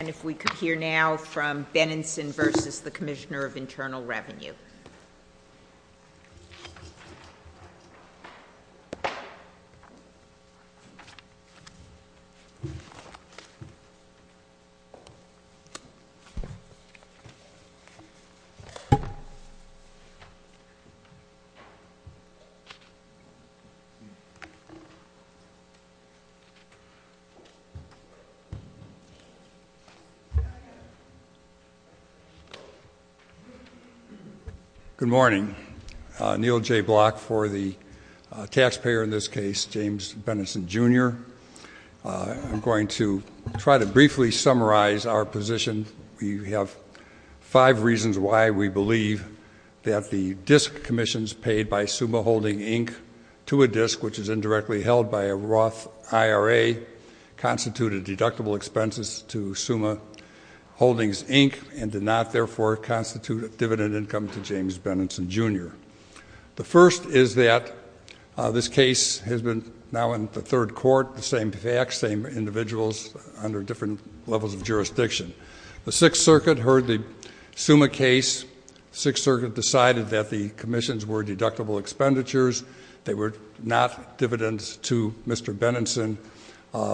rnal Revenue. Good morning. Neil J. Block for the taxpayer in this case, James Benenson Jr. I'm going to try to briefly summarize our position. We have five reasons why we believe that the DISC commissions paid by SUMA Holding Inc. to a DISC, which is indirectly held by a Roth IRA, constituted deductible expenses to SUMA Holdings Inc. and did not, therefore, constitute a dividend income to James Benenson Jr. The first is that this case has been now in the third court, the same facts, same individuals under different levels of jurisdiction. The Sixth Circuit heard the SUMA case. The Sixth Circuit decided that the commissions were deductible expenditures. They were not dividends to Mr. Benenson.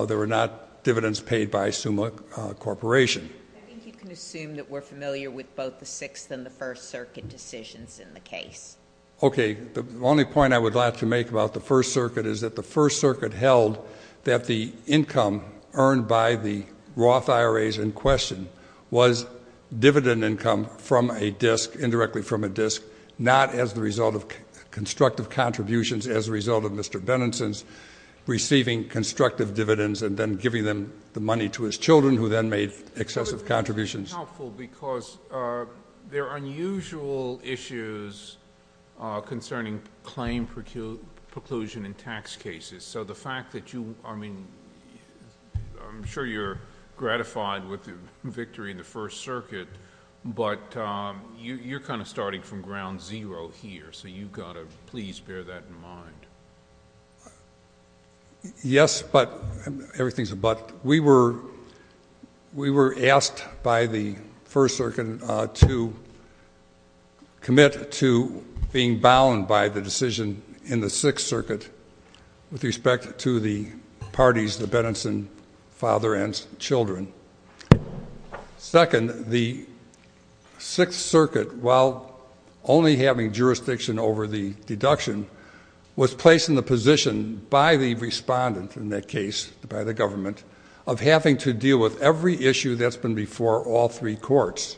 They were not dividends paid by SUMA Corporation. I think you can assume that we're familiar with both the Sixth and the First Circuit decisions in the case. Okay. The only point I would like to make about the First Circuit is that the First Circuit held that the income earned by the Roth IRAs in question was dividend income from a DISC, indirectly from a DISC, not as the result of constructive contributions, as a result of Mr. Benenson's receiving constructive dividends and then giving them the money to his children, who then made excessive contributions. It would have to be helpful because there are unusual issues concerning claim preclusion in tax cases. The fact that you... I'm sure you're gratified with the victory in the First Circuit, but you're kind of starting from ground zero here, so you've got to please bear that in mind. Yes, but... everything's a but. We were asked by the First Circuit to commit to being bound by the decision in the Sixth Circuit with respect to the parties, the Benenson father and children. Second, the Sixth Circuit, while only having jurisdiction over the deduction, was placed in the position by the respondent in that case, by the government, of having to deal with every issue that's been before all three courts.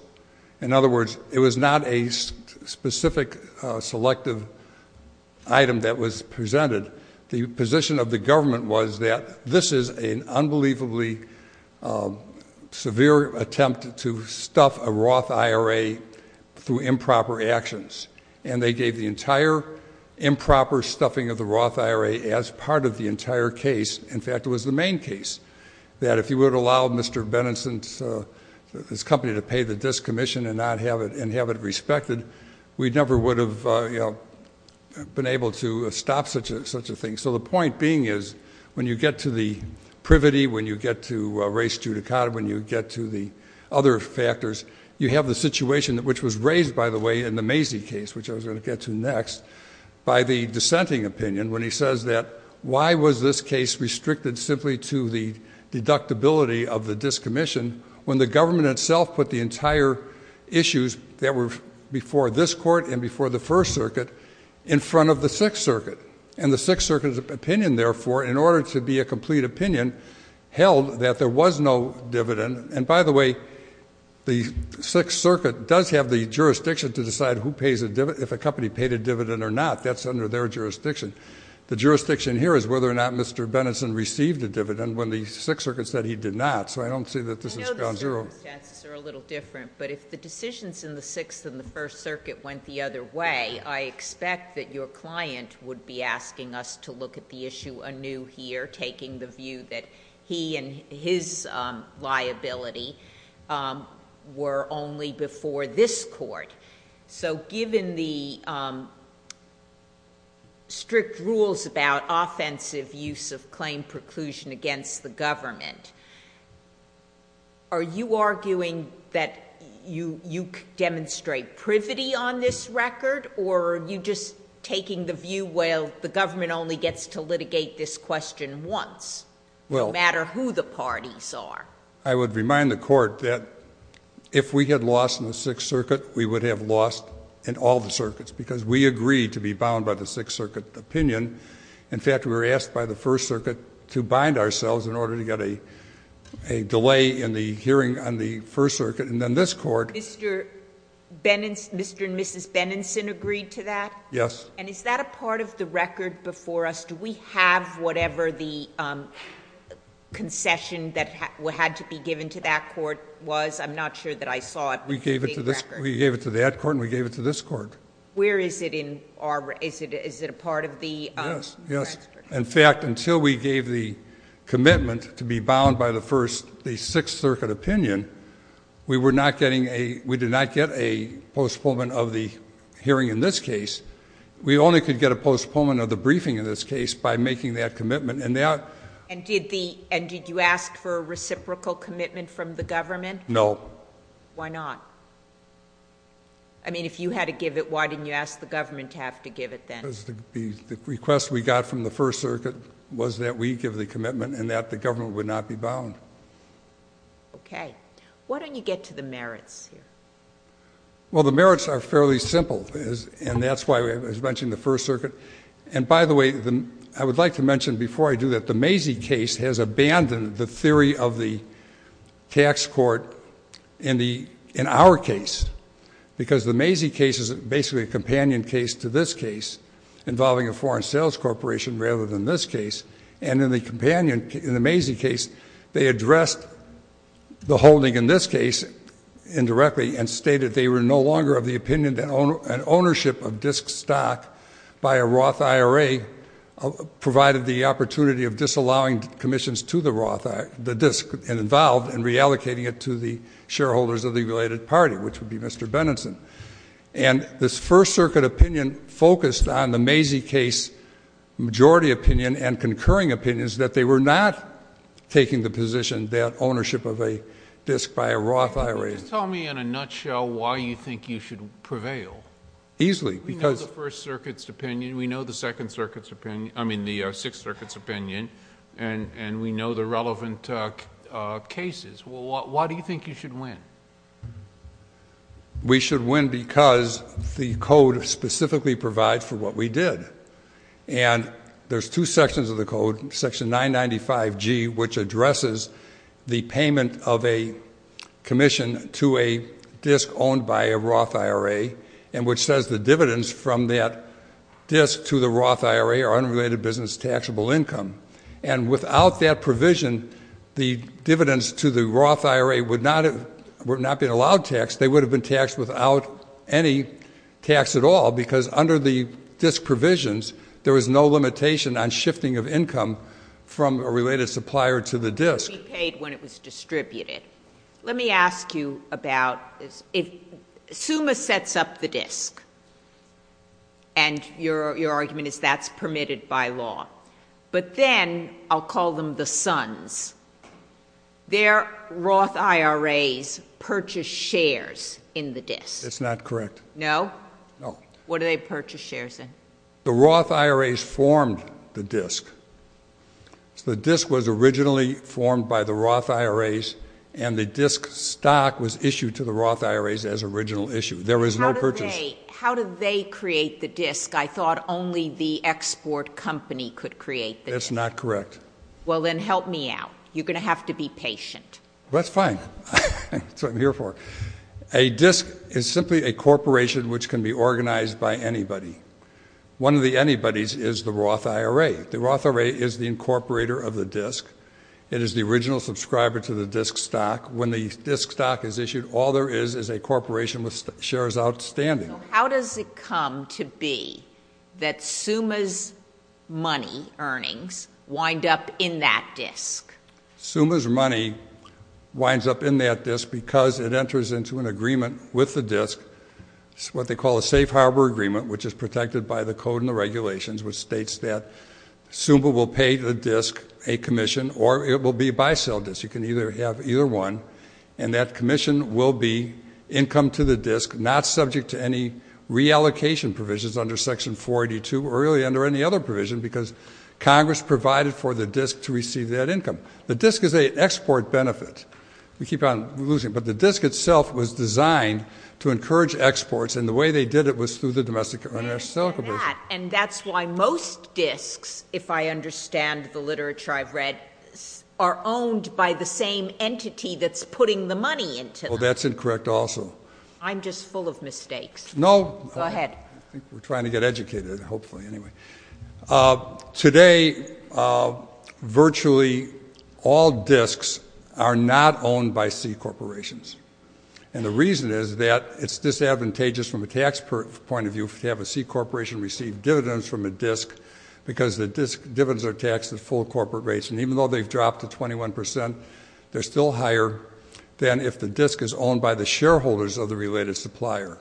In other words, it was not a specific selective item that was presented. The position of the government was that this is an unbelievably severe attempt to stuff a Roth IRA through improper actions, and they gave the entire improper stuffing of the Roth IRA as part of the entire case. In fact, it was the main case, that if you would have allowed Mr. Benenson's company to pay the discommission and have it respected, we never would have been able to stop such a thing. So the point being is, when you get to the privity, when you get to race judicata, when you get to the other factors, you have the situation, which was raised, by the way, in the Macy case, which I was going to get to next, by the dissenting opinion, when he says that why was this case restricted simply to the deductibility of the discommission when the government itself put the entire issues that were before this court and before the First Circuit in front of the Sixth Circuit? And the Sixth Circuit's opinion, therefore, in order to be a complete opinion, held that there was no dividend. And by the way, the Sixth Circuit does have the jurisdiction to decide if a company paid a dividend or not. That's under their jurisdiction. The jurisdiction here is whether or not Mr. Benenson received a dividend when the Sixth Circuit said he did not. So I don't see that this is bound zero. I know the circumstances are a little different, but if the decisions in the Sixth and the First Circuit went the other way, I expect that your client would be asking us to look at the issue anew here, taking the view that he and his liability were only before this court. So given the strict rules about offensive use of claim preclusion against the government, are you arguing that you demonstrate privity on this record, or are you just taking the view, well, the government only gets to litigate this question once, no matter who the parties are? I would remind the Court that if we had lost in the Sixth Circuit, we would have lost in all the circuits, because we agreed to be bound by the Sixth Circuit opinion. In fact, we were asked by the First Circuit to bind ourselves in order to get a delay in the hearing on the First Circuit, and then this Court Mr. Benenson, Mr. and Mrs. Benenson agreed to that? Yes. And is that a part of the record before us? Do we have whatever the concession that had to be given to that court was? I'm not sure that I saw it. We gave it to that court, and we gave it to this court. Where is it in our record? Is it a part of the record? Yes. In fact, until we gave the commitment to be bound by the Sixth Circuit opinion, we did not get a postponement of the hearing in this case. We only could get a postponement of the briefing in this case by making that commitment, and that... And did you ask for a reciprocal commitment from the government? No. Why not? I mean, if you had to give it, why didn't you ask the government to have to give it then? The request we got from the First Circuit was that we give the commitment and that the government would not be bound. Okay. Why don't you get to the merits here? Well, the merits are fairly simple, and that's why I was mentioning the First Circuit. And by the way, I would like to mention before I do that, the Mazie case has abandoned the theory of the tax court in our case because the Mazie case is basically a companion case to this case involving a foreign sales corporation rather than this case. And in the Mazie case, they addressed the holding in this case indirectly and stated they were no longer of the opinion that ownership of disk stock by a Roth IRA provided the opportunity of disallowing commissions to the disk and involved in reallocating it to the shareholders of the related party, which would be Mr. Benenson. And this First Circuit opinion focused on the Mazie case majority opinion and concurring opinions that they were not taking the position that ownership of a disk by a Roth IRA... In a nutshell, why do you think you should prevail? Easily because... We know the First Circuit's opinion, we know the Sixth Circuit's opinion, and we know the relevant cases. Why do you think you should win? We should win because the code specifically provides for what we did. And there's two sections of the code, Section 995G, which addresses the payment of a commission to a disk owned by a Roth IRA and which says the dividends from that disk to the Roth IRA are unrelated business taxable income. And without that provision, the dividends to the Roth IRA would not have been allowed tax. They would have been taxed without any tax at all because under the disk provisions, there is no limitation on shifting of income from a related supplier to the disk. It would be paid when it was distributed. Let me ask you about... If SUMA sets up the disk, and your argument is that's permitted by law, but then I'll call them the sons, their Roth IRAs purchase shares in the disk. That's not correct. No? No. What do they purchase shares in? The Roth IRAs formed the disk. The disk was originally formed by the Roth IRAs, and the disk stock was issued to the Roth IRAs as original issue. There was no purchase... How did they create the disk? I thought only the export company could create the disk. That's not correct. Well, then help me out. You're going to have to be patient. That's fine. That's what I'm here for. A disk is simply a corporation which can be organized by anybody. One of the anybodies is the Roth IRA. The Roth IRA is the incorporator of the disk. It is the original subscriber to the disk stock. When the disk stock is issued, all there is is a corporation with shares outstanding. How does it come to be that SUMA's money earnings wind up in that disk? SUMA's money winds up in that disk because it enters into an agreement with the disk. It's what they call a safe harbor agreement, which is protected by the code and the regulations, which states that SUMA will pay the disk a commission, or it will be a buy-sell disk. You can either have either one, and that commission will be income to the disk, not subject to any reallocation provisions under Section 482 or really under any other provision because Congress provided for the disk to receive that income. The disk is an export benefit. We keep on losing it, but the disk itself was designed to encourage exports, and the way they did it was through the Domestic International Selling Corporation. And that's why most disks, if I understand the literature I've read, are owned by the same entity that's putting the money into them. Well, that's incorrect also. I'm just full of mistakes. No. Go ahead. I think we're trying to get educated, hopefully, anyway. Today, virtually all disks are not owned by C corporations, and the reason is that it's disadvantageous from a tax point of view to have a C corporation receive dividends from a disk because the dividends are taxed at full corporate rates, and even though they've dropped to 21 percent, they're still higher than if the disk is owned by the shareholders of the related supplier.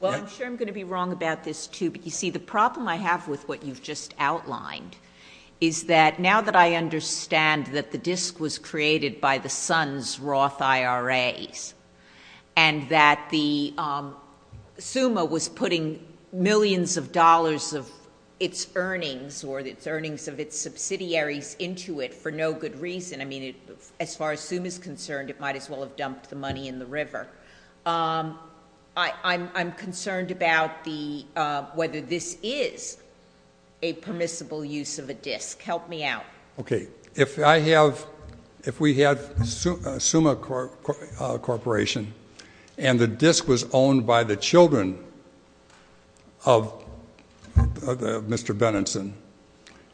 Well, I'm sure I'm going to be wrong about this, too, but, you see, the problem I have with what you've just outlined is that now that I understand that the disk was created by the Sun's Roth IRAs and that SUMA was putting millions of dollars of its earnings or its earnings of its subsidiaries into it for no good reason, I mean, as far as SUMA's concerned, it might as well have dumped the money in the river, I'm concerned about whether this is a permissible use of a disk. Help me out. Okay. If we had a SUMA corporation and the disk was owned by the children of Mr. Benenson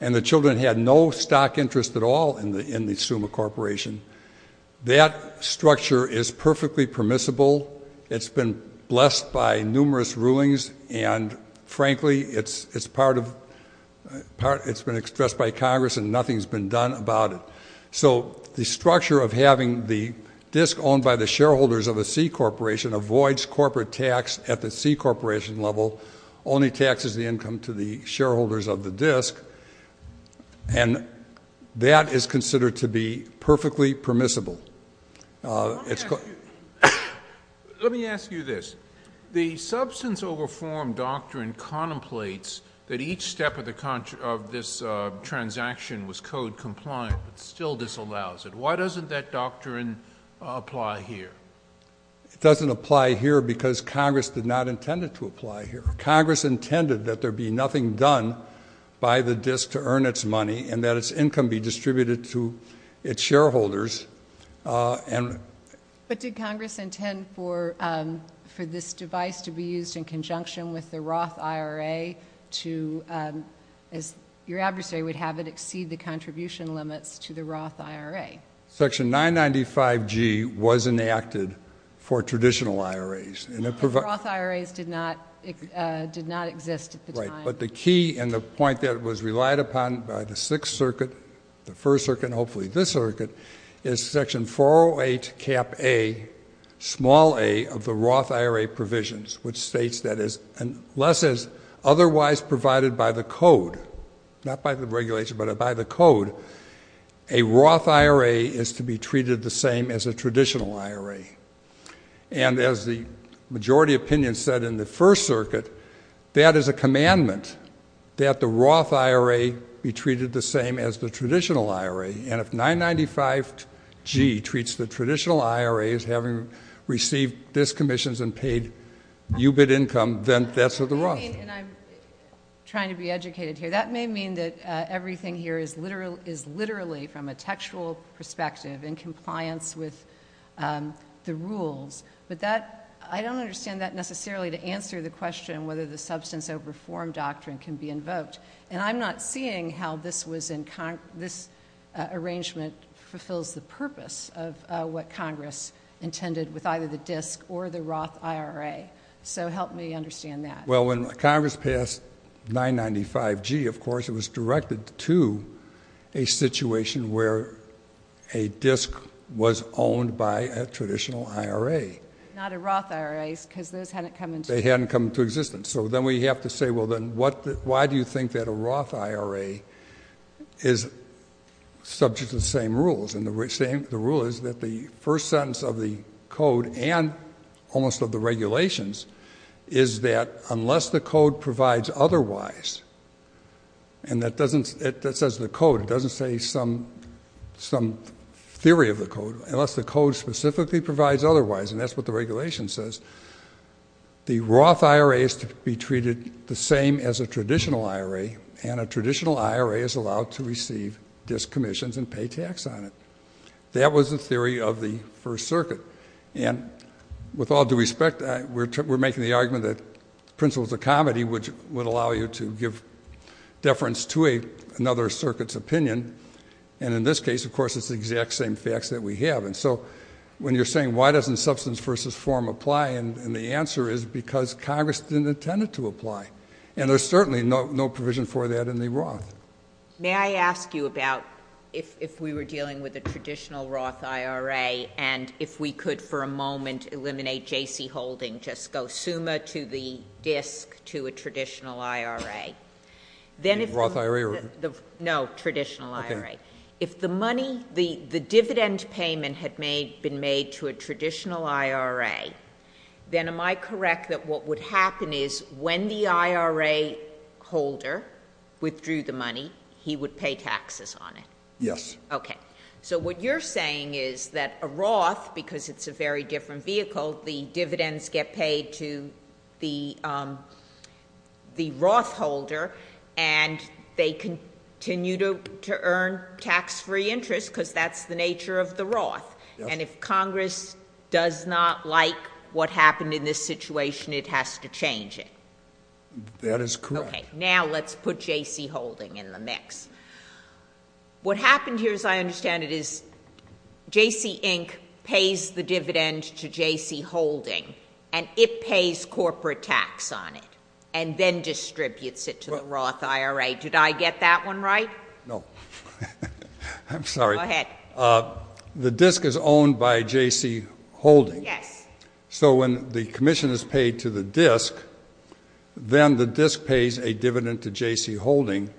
and the children had no stock interest at all in the SUMA corporation, that structure is perfectly permissible. It's been blessed by numerous rulings, and, frankly, it's been expressed by Congress and nothing's been done about it. So the structure of having the disk owned by the shareholders of a C corporation avoids corporate tax at the C corporation level, only taxes the income to the shareholders of the disk, and that is considered to be perfectly permissible. Let me ask you this. The substance over form doctrine contemplates that each step of this transaction was code compliant, but still disallows it. Why doesn't that doctrine apply here? It doesn't apply here because Congress did not intend it to apply here. Congress intended that there be nothing done by the disk to earn its money and that its income be distributed to its shareholders. But did Congress intend for this device to be used in conjunction with the Roth IRA to, as your adversary would have it, exceed the contribution limits to the Roth IRA? Section 995G was enacted for traditional IRAs. The Roth IRAs did not exist at the time. Right, but the key and the point that was relied upon by the Sixth Circuit, the First Circuit, and hopefully this circuit, is Section 408 Cap A, small a, of the Roth IRA provisions, which states that unless it is otherwise provided by the code, not by the regulation but by the code, a Roth IRA is to be treated the same as a traditional IRA. And as the majority opinion said in the First Circuit, that is a commandment that the Roth IRA be treated the same as the traditional IRA. And if 995G treats the traditional IRA as having received disk commissions and paid UBIT income, then that's a Roth IRA. And I'm trying to be educated here. That may mean that everything here is literally from a textual perspective in compliance with the rules, but I don't understand that necessarily to answer the question whether the substance over form doctrine can be invoked. And I'm not seeing how this arrangement fulfills the purpose of what Congress intended with either the disk or the Roth IRA. So help me understand that. Well, when Congress passed 995G, of course, it was directed to a situation where a disk was owned by a traditional IRA. Not a Roth IRA because those hadn't come into existence. They hadn't come into existence. So then we have to say, well, then, why do you think that a Roth IRA is subject to the same rules? And the rule is that the first sentence of the code and almost of the regulations is that unless the code provides otherwise, and that says the code. It doesn't say some theory of the code. Unless the code specifically provides otherwise, and that's what the regulation says, the Roth IRA is to be treated the same as a traditional IRA, and a traditional IRA is allowed to receive disk commissions and pay tax on it. That was the theory of the First Circuit. And with all due respect, we're making the argument that principles of comedy would allow you to give deference to another circuit's opinion, and in this case, of course, it's the exact same facts that we have. And so when you're saying why doesn't substance versus form apply, and the answer is because Congress didn't intend it to apply, and there's certainly no provision for that in the Roth. May I ask you about if we were dealing with a traditional Roth IRA and if we could for a moment eliminate J.C. Holding, just go SUMA to the disk to a traditional IRA. The Roth IRA? No, traditional IRA. Okay. If the money, the dividend payment had been made to a traditional IRA, then am I correct that what would happen is when the IRA holder withdrew the money, he would pay taxes on it? Yes. Okay. So what you're saying is that a Roth, because it's a very different vehicle, the dividends get paid to the Roth holder and they continue to earn tax-free interest because that's the nature of the Roth. Yes. And if Congress does not like what happened in this situation, it has to change it. That is correct. Okay. Now let's put J.C. Holding in the mix. What happened here, as I understand it, is J.C. Inc. pays the dividend to J.C. Holding and it pays corporate tax on it and then distributes it to the Roth IRA. Did I get that one right? No. I'm sorry. Go ahead. The disk is owned by J.C. Holding. Yes. So when the commission is paid to the disk, then the disk pays a dividend to J.C. Holding,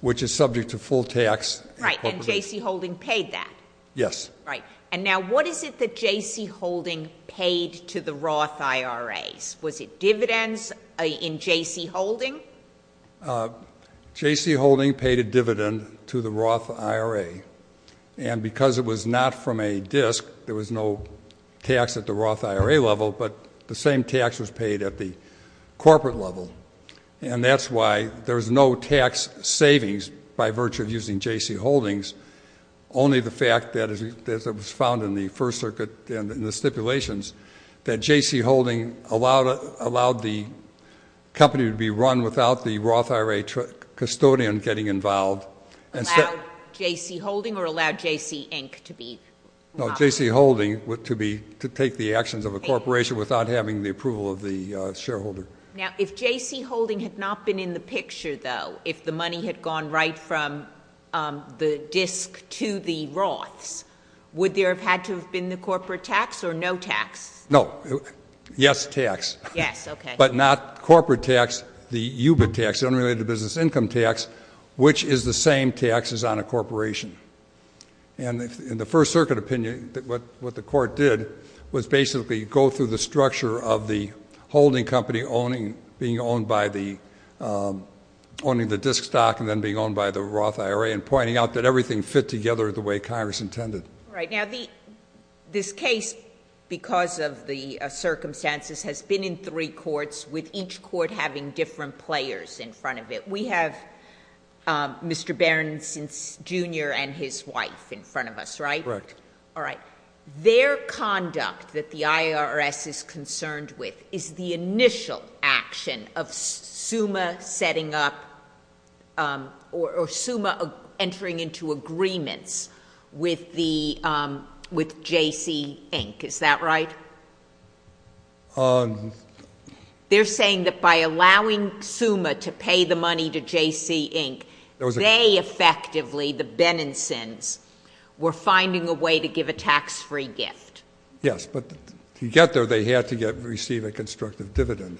which is subject to full tax. Right, and J.C. Holding paid that. Yes. Right. And now what is it that J.C. Holding paid to the Roth IRAs? Was it dividends in J.C. Holding? J.C. Holding paid a dividend to the Roth IRA, and because it was not from a disk, there was no tax at the Roth IRA level, but the same tax was paid at the corporate level, and that's why there's no tax savings by virtue of using J.C. Holdings, only the fact that, as was found in the First Circuit and the stipulations, that J.C. Holding allowed the company to be run without the Roth IRA custodian getting involved. Allowed J.C. Holding or allowed J.C. Inc. to be involved? No, J.C. Holding to take the actions of a corporation without having the approval of the shareholder. Now, if J.C. Holding had not been in the picture, though, if the money had gone right from the disk to the Roths, would there have had to have been the corporate tax or no tax? No. Yes, tax. Yes, okay. But not corporate tax, the UBIT tax, the unrelated business income tax, which is the same tax as on a corporation. And in the First Circuit opinion, what the court did was basically go through the structure of the holding company owning the disk stock and then being owned by the Roth IRA and pointing out that everything fit together the way Congress intended. All right. Now, this case, because of the circumstances, has been in three courts with each court having different players in front of it. We have Mr. Berenson, Jr., and his wife in front of us, right? Correct. All right. Their conduct that the IRS is concerned with is the initial action of SUMA setting up or SUMA entering into agreements with J.C. Inc., is that right? They're saying that by allowing SUMA to pay the money to J.C. Inc., they effectively, the Benensons, were finding a way to give a tax-free gift. Yes, but to get there, they had to receive a constructive dividend.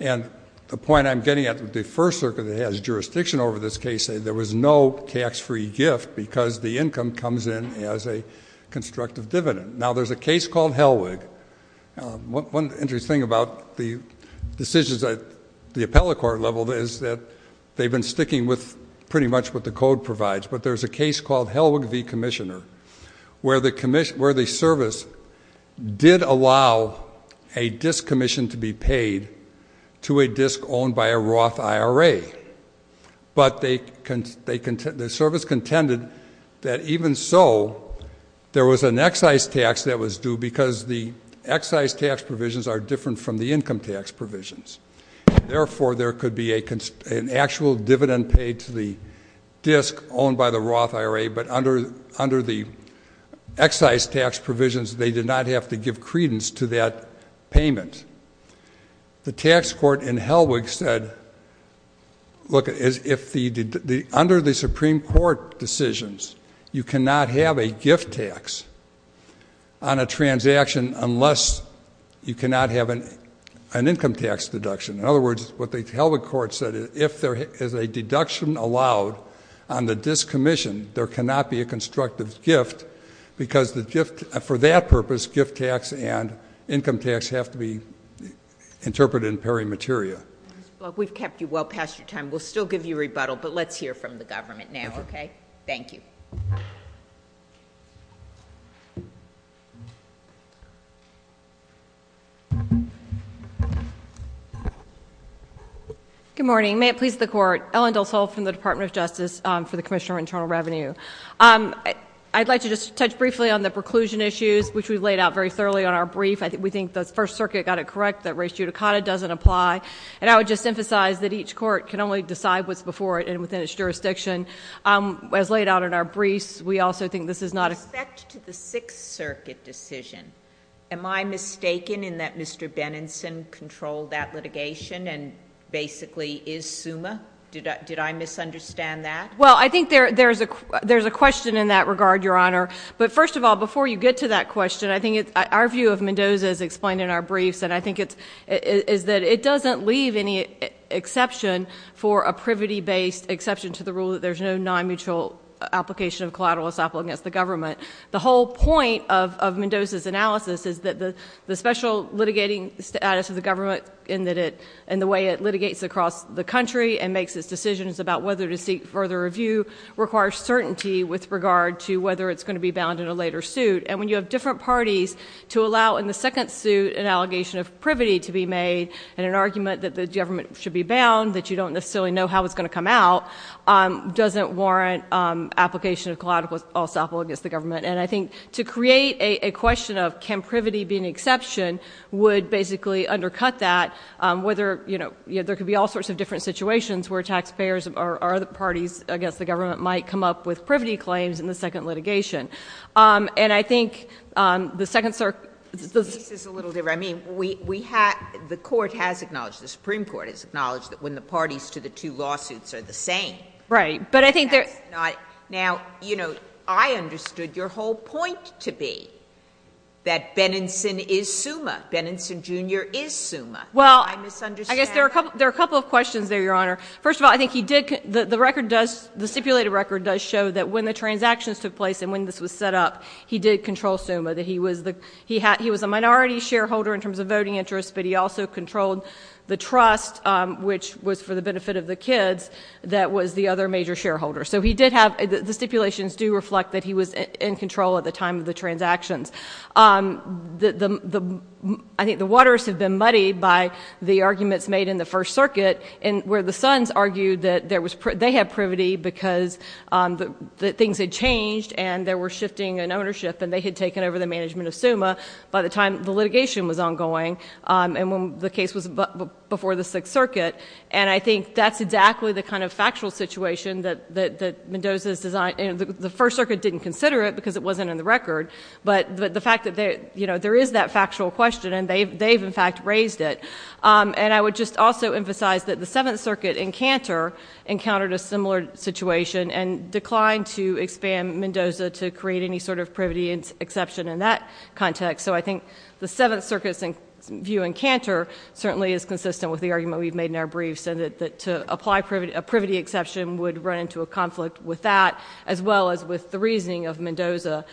And the point I'm getting at with the First Circuit that has jurisdiction over this case, there was no tax-free gift because the income comes in as a constructive dividend. Now, there's a case called Helwig. One interesting thing about the decisions at the appellate court level is that they've been sticking with pretty much what the code provides. But there's a case called Helwig v. Commissioner where the service did allow a disk commission to be paid to a disk owned by a Roth IRA. But the service contended that even so, there was an excise tax that was due because the excise tax provisions are different from the income tax provisions. Therefore, there could be an actual dividend paid to the disk owned by the Roth IRA, but under the excise tax provisions, they did not have to give credence to that payment. The tax court in Helwig said, look, under the Supreme Court decisions, you cannot have a gift tax on a transaction unless you cannot have an income tax deduction. In other words, what the Helwig court said is, if there is a deduction allowed on the disk commission, there cannot be a constructive gift because for that purpose, gift tax and income tax have to be interpreted in peri materia. Ms. Bloch, we've kept you well past your time. We'll still give you rebuttal, but let's hear from the government now, okay? Thank you. Good morning. May it please the Court. Ellen Del Sol from the Department of Justice for the Commissioner of Internal Revenue. I'd like to just touch briefly on the preclusion issues, which we've laid out very thoroughly on our brief. We think the First Circuit got it correct that res judicata doesn't apply, and I would just emphasize that each court can only decide what's before it and within its jurisdiction. As laid out in our briefs, we also think this is not a— Respect to the Sixth Circuit decision, am I mistaken in that Mr. Benenson controlled that litigation and basically is SUMA? Did I misunderstand that? Well, I think there's a question in that regard, Your Honor. But first of all, before you get to that question, I think our view of Mendoza is explained in our briefs, and I think it's that it doesn't leave any exception for a privity-based exception to the rule that there's no non-mutual application of collateral assault against the government. The whole point of Mendoza's analysis is that the special litigating status of the government and the way it litigates across the country and makes its decisions about whether to seek further review requires certainty with regard to whether it's going to be bound in a later suit. And when you have different parties to allow in the second suit an allegation of privity to be made and an argument that the government should be bound, that you don't necessarily know how it's going to come out, doesn't warrant application of collateral assault against the government. And I think to create a question of can privity be an exception would basically undercut that, whether, you know, there could be all sorts of different situations where taxpayers or other parties against the government might come up with privity claims in the second litigation. And I think the second circuit— This is a little different. I mean, we have—the Court has acknowledged, the Supreme Court has acknowledged that when the parties to the two lawsuits are the same— Right, but I think there— Now, you know, I understood your whole point to be that Benenson is SUMA. Benenson Jr. is SUMA. Well, I guess there are a couple of questions there, Your Honor. First of all, I think he did—the stipulated record does show that when the transactions took place and when this was set up, he did control SUMA. He was a minority shareholder in terms of voting interests, but he also controlled the trust, which was for the benefit of the kids, that was the other major shareholder. So he did have—the stipulations do reflect that he was in control at the time of the transactions. I think the waters have been muddied by the arguments made in the First Circuit where the Sons argued that they had privity because things had changed and they were shifting in ownership and they had taken over the management of SUMA by the time the litigation was ongoing and when the case was before the Sixth Circuit. And I think that's exactly the kind of factual situation that Mendoza's design— the First Circuit didn't consider it because it wasn't in the record, but the fact that there is that factual question and they've, in fact, raised it. And I would just also emphasize that the Seventh Circuit in Cantor encountered a similar situation and declined to expand Mendoza to create any sort of privity exception in that context. So I think the Seventh Circuit's view in Cantor certainly is consistent with the argument we've made in our briefs and that to apply a privity exception would run into a conflict with that as well as with the reasoning of Mendoza.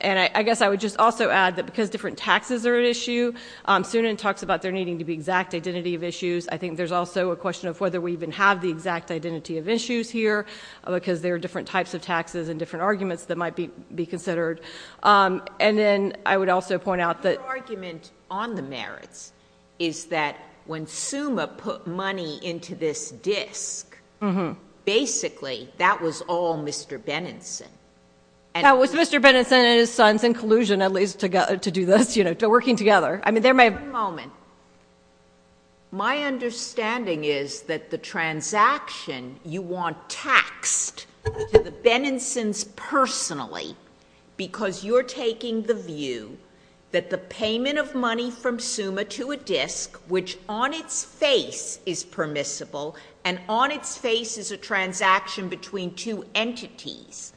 And I guess I would just also add that because different taxes are an issue, Sunan talks about there needing to be exact identity of issues. I think there's also a question of whether we even have the exact identity of issues here because there are different types of taxes and different arguments that might be considered. And then I would also point out that— Your argument on the merits is that when Suma put money into this disk, basically that was all Mr. Benenson. That was Mr. Benenson and his sons in collusion at least to do this, you know, working together. I mean, there may have— One moment. My understanding is that the transaction you want taxed to the Benensons personally because you're taking the view that the payment of money from Suma to a disk which on its face is permissible and on its face is a transaction between two entities,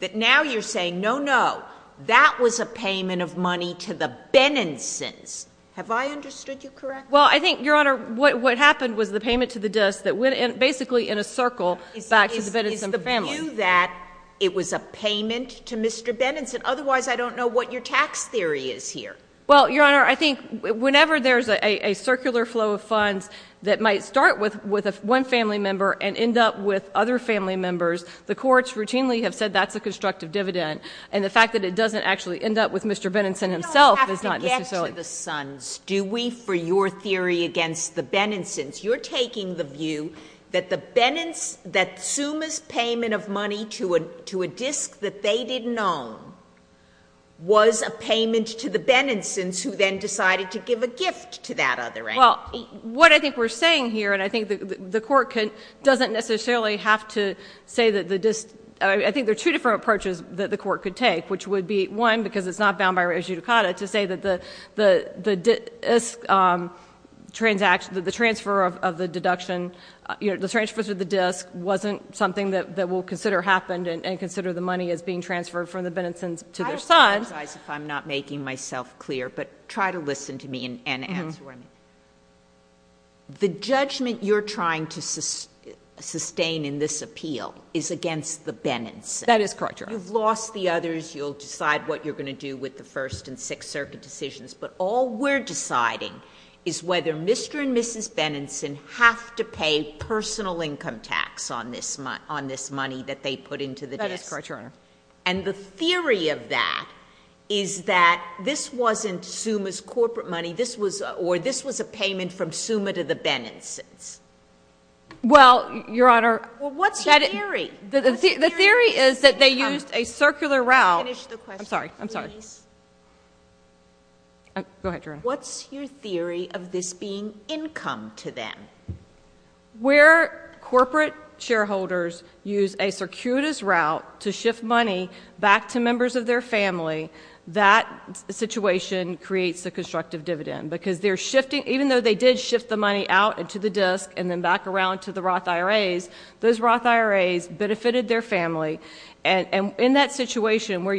that now you're saying, no, no, that was a payment of money to the Benensons. Have I understood you correctly? Well, I think, Your Honor, what happened was the payment to the disk that went basically in a circle back to the Benenson family. You're taking the view that it was a payment to Mr. Benenson. Otherwise, I don't know what your tax theory is here. Well, Your Honor, I think whenever there's a circular flow of funds that might start with one family member and end up with other family members, the courts routinely have said that's a constructive dividend. And the fact that it doesn't actually end up with Mr. Benenson himself is not necessarily— We don't have to get to the sons, do we, for your theory against the Benensons. You're taking the view that Suma's payment of money to a disk that they didn't own was a payment to the Benensons who then decided to give a gift to that other entity. Well, what I think we're saying here, and I think the Court doesn't necessarily have to say that the disk— I think there are two different approaches that the Court could take, which would be, one, because it's not bound by re judicata, to say that the transfer of the deduction, the transfers of the disk, wasn't something that we'll consider happened and consider the money as being transferred from the Benensons to their son. I apologize if I'm not making myself clear, but try to listen to me and answer what I mean. The judgment you're trying to sustain in this appeal is against the Benensons. That is correct, Your Honor. You'll decide what you're going to do with the First and Sixth Circuit decisions, but all we're deciding is whether Mr. and Mrs. Benenson have to pay personal income tax on this money that they put into the disk. That is correct, Your Honor. And the theory of that is that this wasn't Suma's corporate money, or this was a payment from Suma to the Benensons. Well, Your Honor— Well, what's the theory? The theory is that they used a circular route— Finish the question, please. I'm sorry. I'm sorry. Go ahead, Your Honor. What's your theory of this being income to them? Where corporate shareholders use a circuitous route to shift money back to members of their family, that situation creates a constructive dividend, because even though they did shift the money out and to the disk and then back around to the Roth IRAs, those Roth IRAs benefited their family, and in that situation where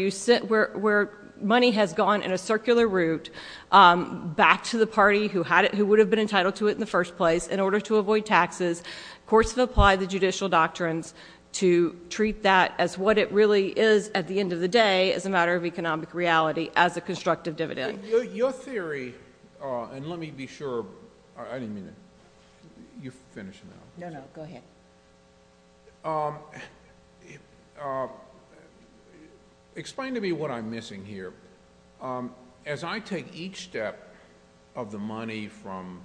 money has gone in a circular route back to the party who would have been entitled to it in the first place in order to avoid taxes, courts have applied the judicial doctrines to treat that as what it really is at the end of the day as a matter of economic reality as a constructive dividend. Your theory—and let me be sure—I didn't mean to—you finish now. No, no. Go ahead. Explain to me what I'm missing here. As I take each step of the money from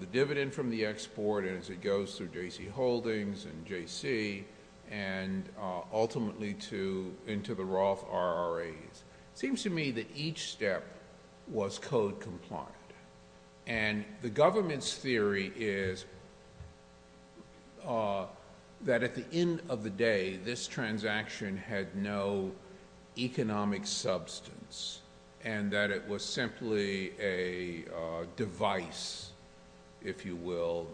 the dividend from the export as it goes through J.C. Holdings and J.C. and ultimately into the Roth IRAs, it seems to me that each step was code compliant, and the government's theory is that at the end of the day, this transaction had no economic substance and that it was simply a device, if you will,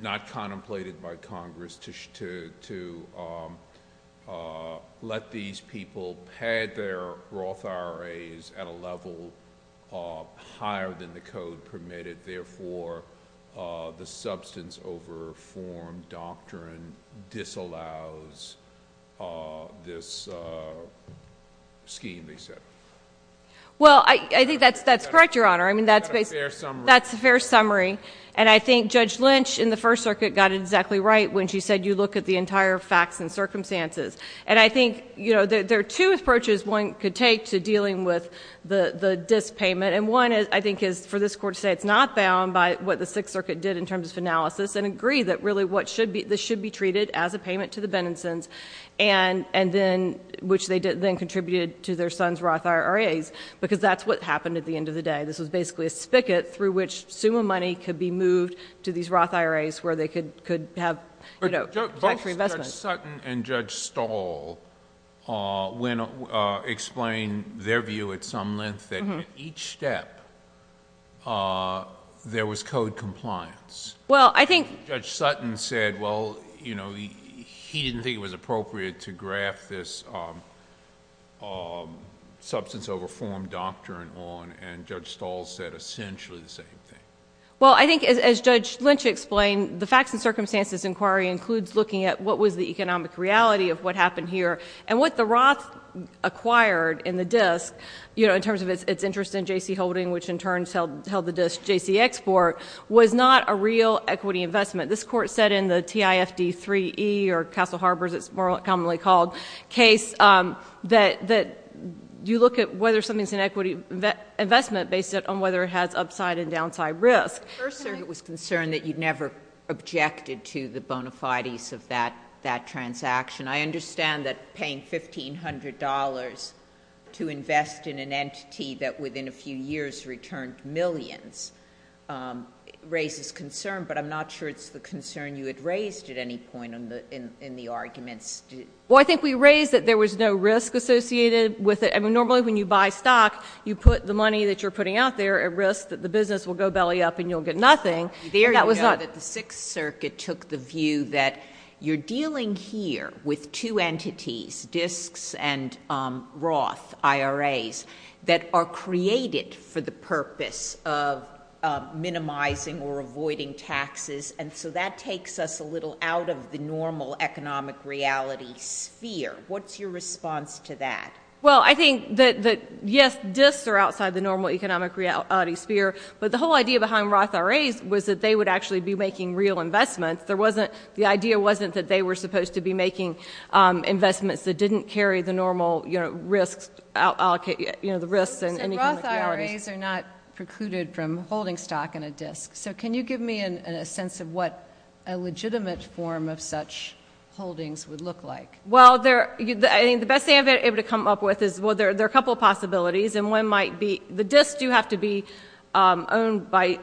not contemplated by Congress to let these people who had their Roth IRAs at a level higher than the code permitted. Therefore, the substance over form doctrine disallows this scheme, they said. Well, I think that's correct, Your Honor. That's a fair summary. That's a fair summary, and I think Judge Lynch in the First Circuit got it exactly right when she said you look at the entire facts and circumstances. And I think, you know, there are two approaches one could take to dealing with the disk payment, and one, I think, is for this Court to say it's not bound by what the Sixth Circuit did in terms of analysis and agree that really this should be treated as a payment to the Benningsons, which they then contributed to their sons' Roth IRAs, because that's what happened at the end of the day. This was basically a spigot through which summa money could be moved to these Roth IRAs where they could have tax-free investments. Judge Sutton and Judge Stahl explained their view at some length that at each step there was code compliance. Well, I think... Judge Sutton said, well, you know, he didn't think it was appropriate to graph this substance over form doctrine on, and Judge Stahl said essentially the same thing. Well, I think as Judge Lynch explained, the facts and circumstances inquiry includes looking at what was the economic reality of what happened here, and what the Roth acquired in the disk, you know, in terms of its interest in J.C. Holdings, which in turn held the disk J.C. Export, was not a real equity investment. This Court said in the TIFD3E or Castle Harbors, as it's more commonly called, case that you look at whether something's an equity investment based on whether it has upside and downside risk. First, sir, it was concerned that you never objected to the bona fides of that transaction. I understand that paying $1,500 to invest in an entity that within a few years returned millions raises concern, but I'm not sure it's the concern you had raised at any point in the arguments. Well, I think we raised that there was no risk associated with it. I mean, normally when you buy stock, you put the money that you're putting out there at risk, that the business will go belly up and you'll get nothing. There you go, that the Sixth Circuit took the view that you're dealing here with two entities, disks and Roth IRAs, that are created for the purpose of minimizing or avoiding taxes, and so that takes us a little out of the normal economic reality sphere. What's your response to that? Well, I think that, yes, disks are outside the normal economic reality sphere, but the whole idea behind Roth IRAs was that they would actually be making real investments. The idea wasn't that they were supposed to be making investments that didn't carry the normal risks and economic realities. So Roth IRAs are not precluded from holding stock in a disk. So can you give me a sense of what a legitimate form of such holdings would look like? Well, I think the best thing I'm able to come up with is, well, there are a couple of possibilities, and one might be the disks do have to be owned by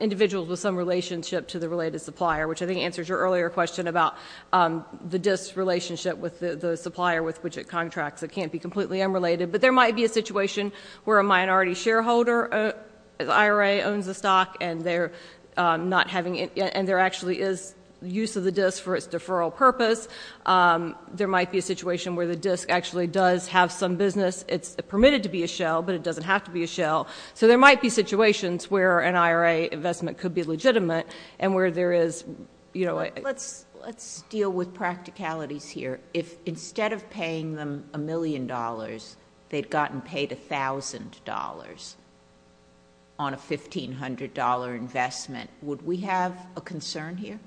individuals with some relationship to the related supplier, which I think answers your earlier question about the disk relationship with the supplier with which it contracts. It can't be completely unrelated. But there might be a situation where a minority shareholder IRA owns the stock and there actually is use of the disk for its deferral purpose. There might be a situation where the disk actually does have some business. It's permitted to be a shell, but it doesn't have to be a shell. So there might be situations where an IRA investment could be legitimate and where there is, you know. Let's deal with practicalities here. If instead of paying them $1 million, they'd gotten paid $1,000 on a $1,500 investment, would we have a concern here?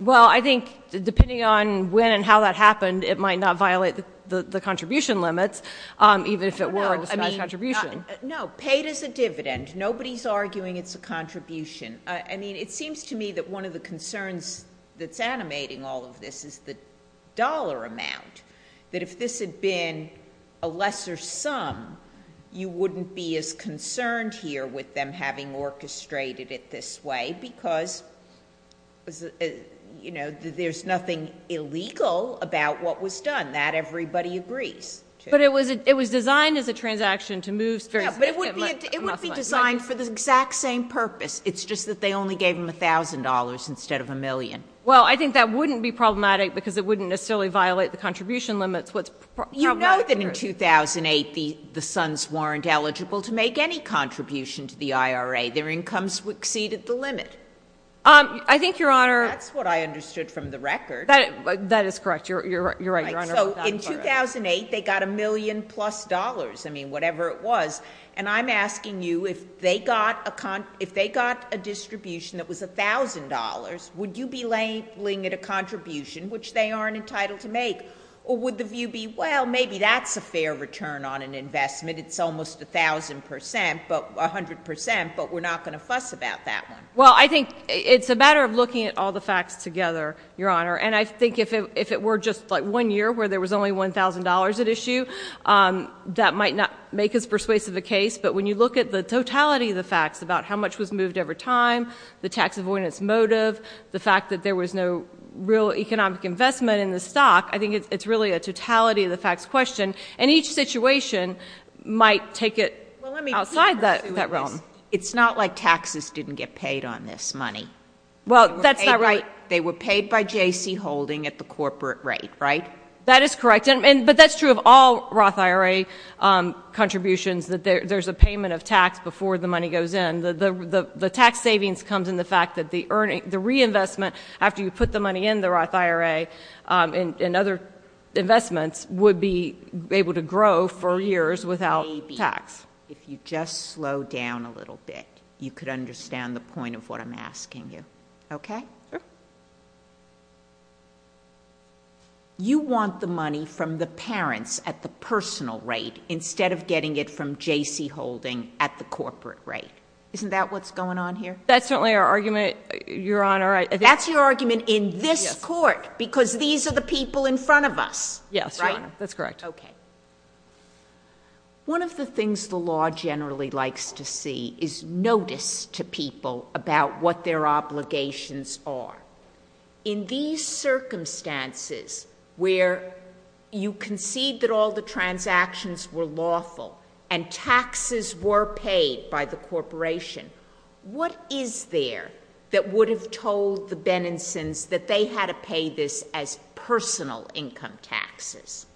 Well, I think, depending on when and how that happened, it might not violate the contribution limits, even if it were a disguised contribution. No, paid as a dividend. Nobody's arguing it's a contribution. I mean, it seems to me that one of the concerns that's animating all of this is the dollar amount. That if this had been a lesser sum, you wouldn't be as concerned here with them having orchestrated it this way, because, you know, there's nothing illegal about what was done. That everybody agrees. But it was designed as a transaction to move. It would be designed for the exact same purpose. It's just that they only gave them $1,000 instead of $1 million. Well, I think that wouldn't be problematic because it wouldn't necessarily violate the contribution limits. You know that in 2008, the sons weren't eligible to make any contribution to the IRA. Their incomes exceeded the limit. I think, Your Honor — That's what I understood from the record. That is correct. You're right, Your Honor. So, in 2008, they got a million-plus dollars. I mean, whatever it was. And I'm asking you, if they got a distribution that was $1,000, would you be laying it a contribution, which they aren't entitled to make? Or would the view be, well, maybe that's a fair return on an investment. It's almost 1,000 percent, 100 percent, but we're not going to fuss about that one. Well, I think it's a matter of looking at all the facts together, Your Honor. And I think if it were just like one year where there was only $1,000 at issue, that might not make as persuasive a case. But when you look at the totality of the facts about how much was moved over time, the tax avoidance motive, the fact that there was no real economic investment in the stock, I think it's really a totality of the facts question. And each situation might take it outside that realm. It's not like taxes didn't get paid on this money. Well, that's not right. They were paid by J.C. Holding at the corporate rate, right? That is correct. But that's true of all Roth IRA contributions, that there's a payment of tax before the money goes in. The tax savings comes in the fact that the reinvestment after you put the money in the Roth IRA and other investments would be able to grow for years without tax. If you just slow down a little bit, you could understand the point of what I'm asking you. Okay? Sure. You want the money from the parents at the personal rate instead of getting it from J.C. Holding at the corporate rate. Isn't that what's going on here? That's certainly our argument, Your Honor. That's your argument in this court because these are the people in front of us. Yes, Your Honor. That's correct. Okay. One of the things the law generally likes to see is notice to people about what their obligations are. In these circumstances where you concede that all the transactions were lawful and taxes were paid by the corporation, what is there that would have told the Bennisons that they had to pay this as personal income taxes?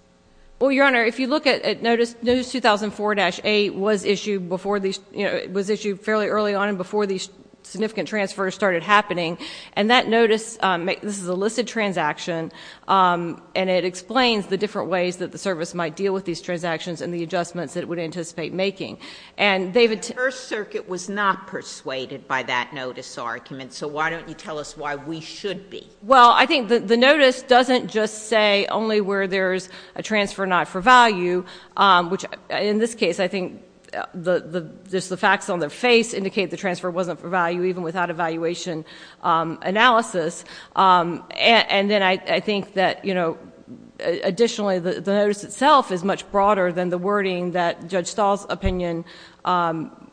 Well, Your Honor, if you look at Notice 2004-A, it was issued fairly early on and before these significant transfers started happening. And that notice, this is a listed transaction, and it explains the different ways that the service might deal with these transactions and the adjustments that it would anticipate making. The First Circuit was not persuaded by that notice argument, so why don't you tell us why we should be? Well, I think the notice doesn't just say only where there's a transfer not for value, which in this case I think just the facts on their face indicate the transfer wasn't for value, even without evaluation analysis. And then I think that, you know, additionally, the notice itself is much broader than the wording that Judge Stahl's opinion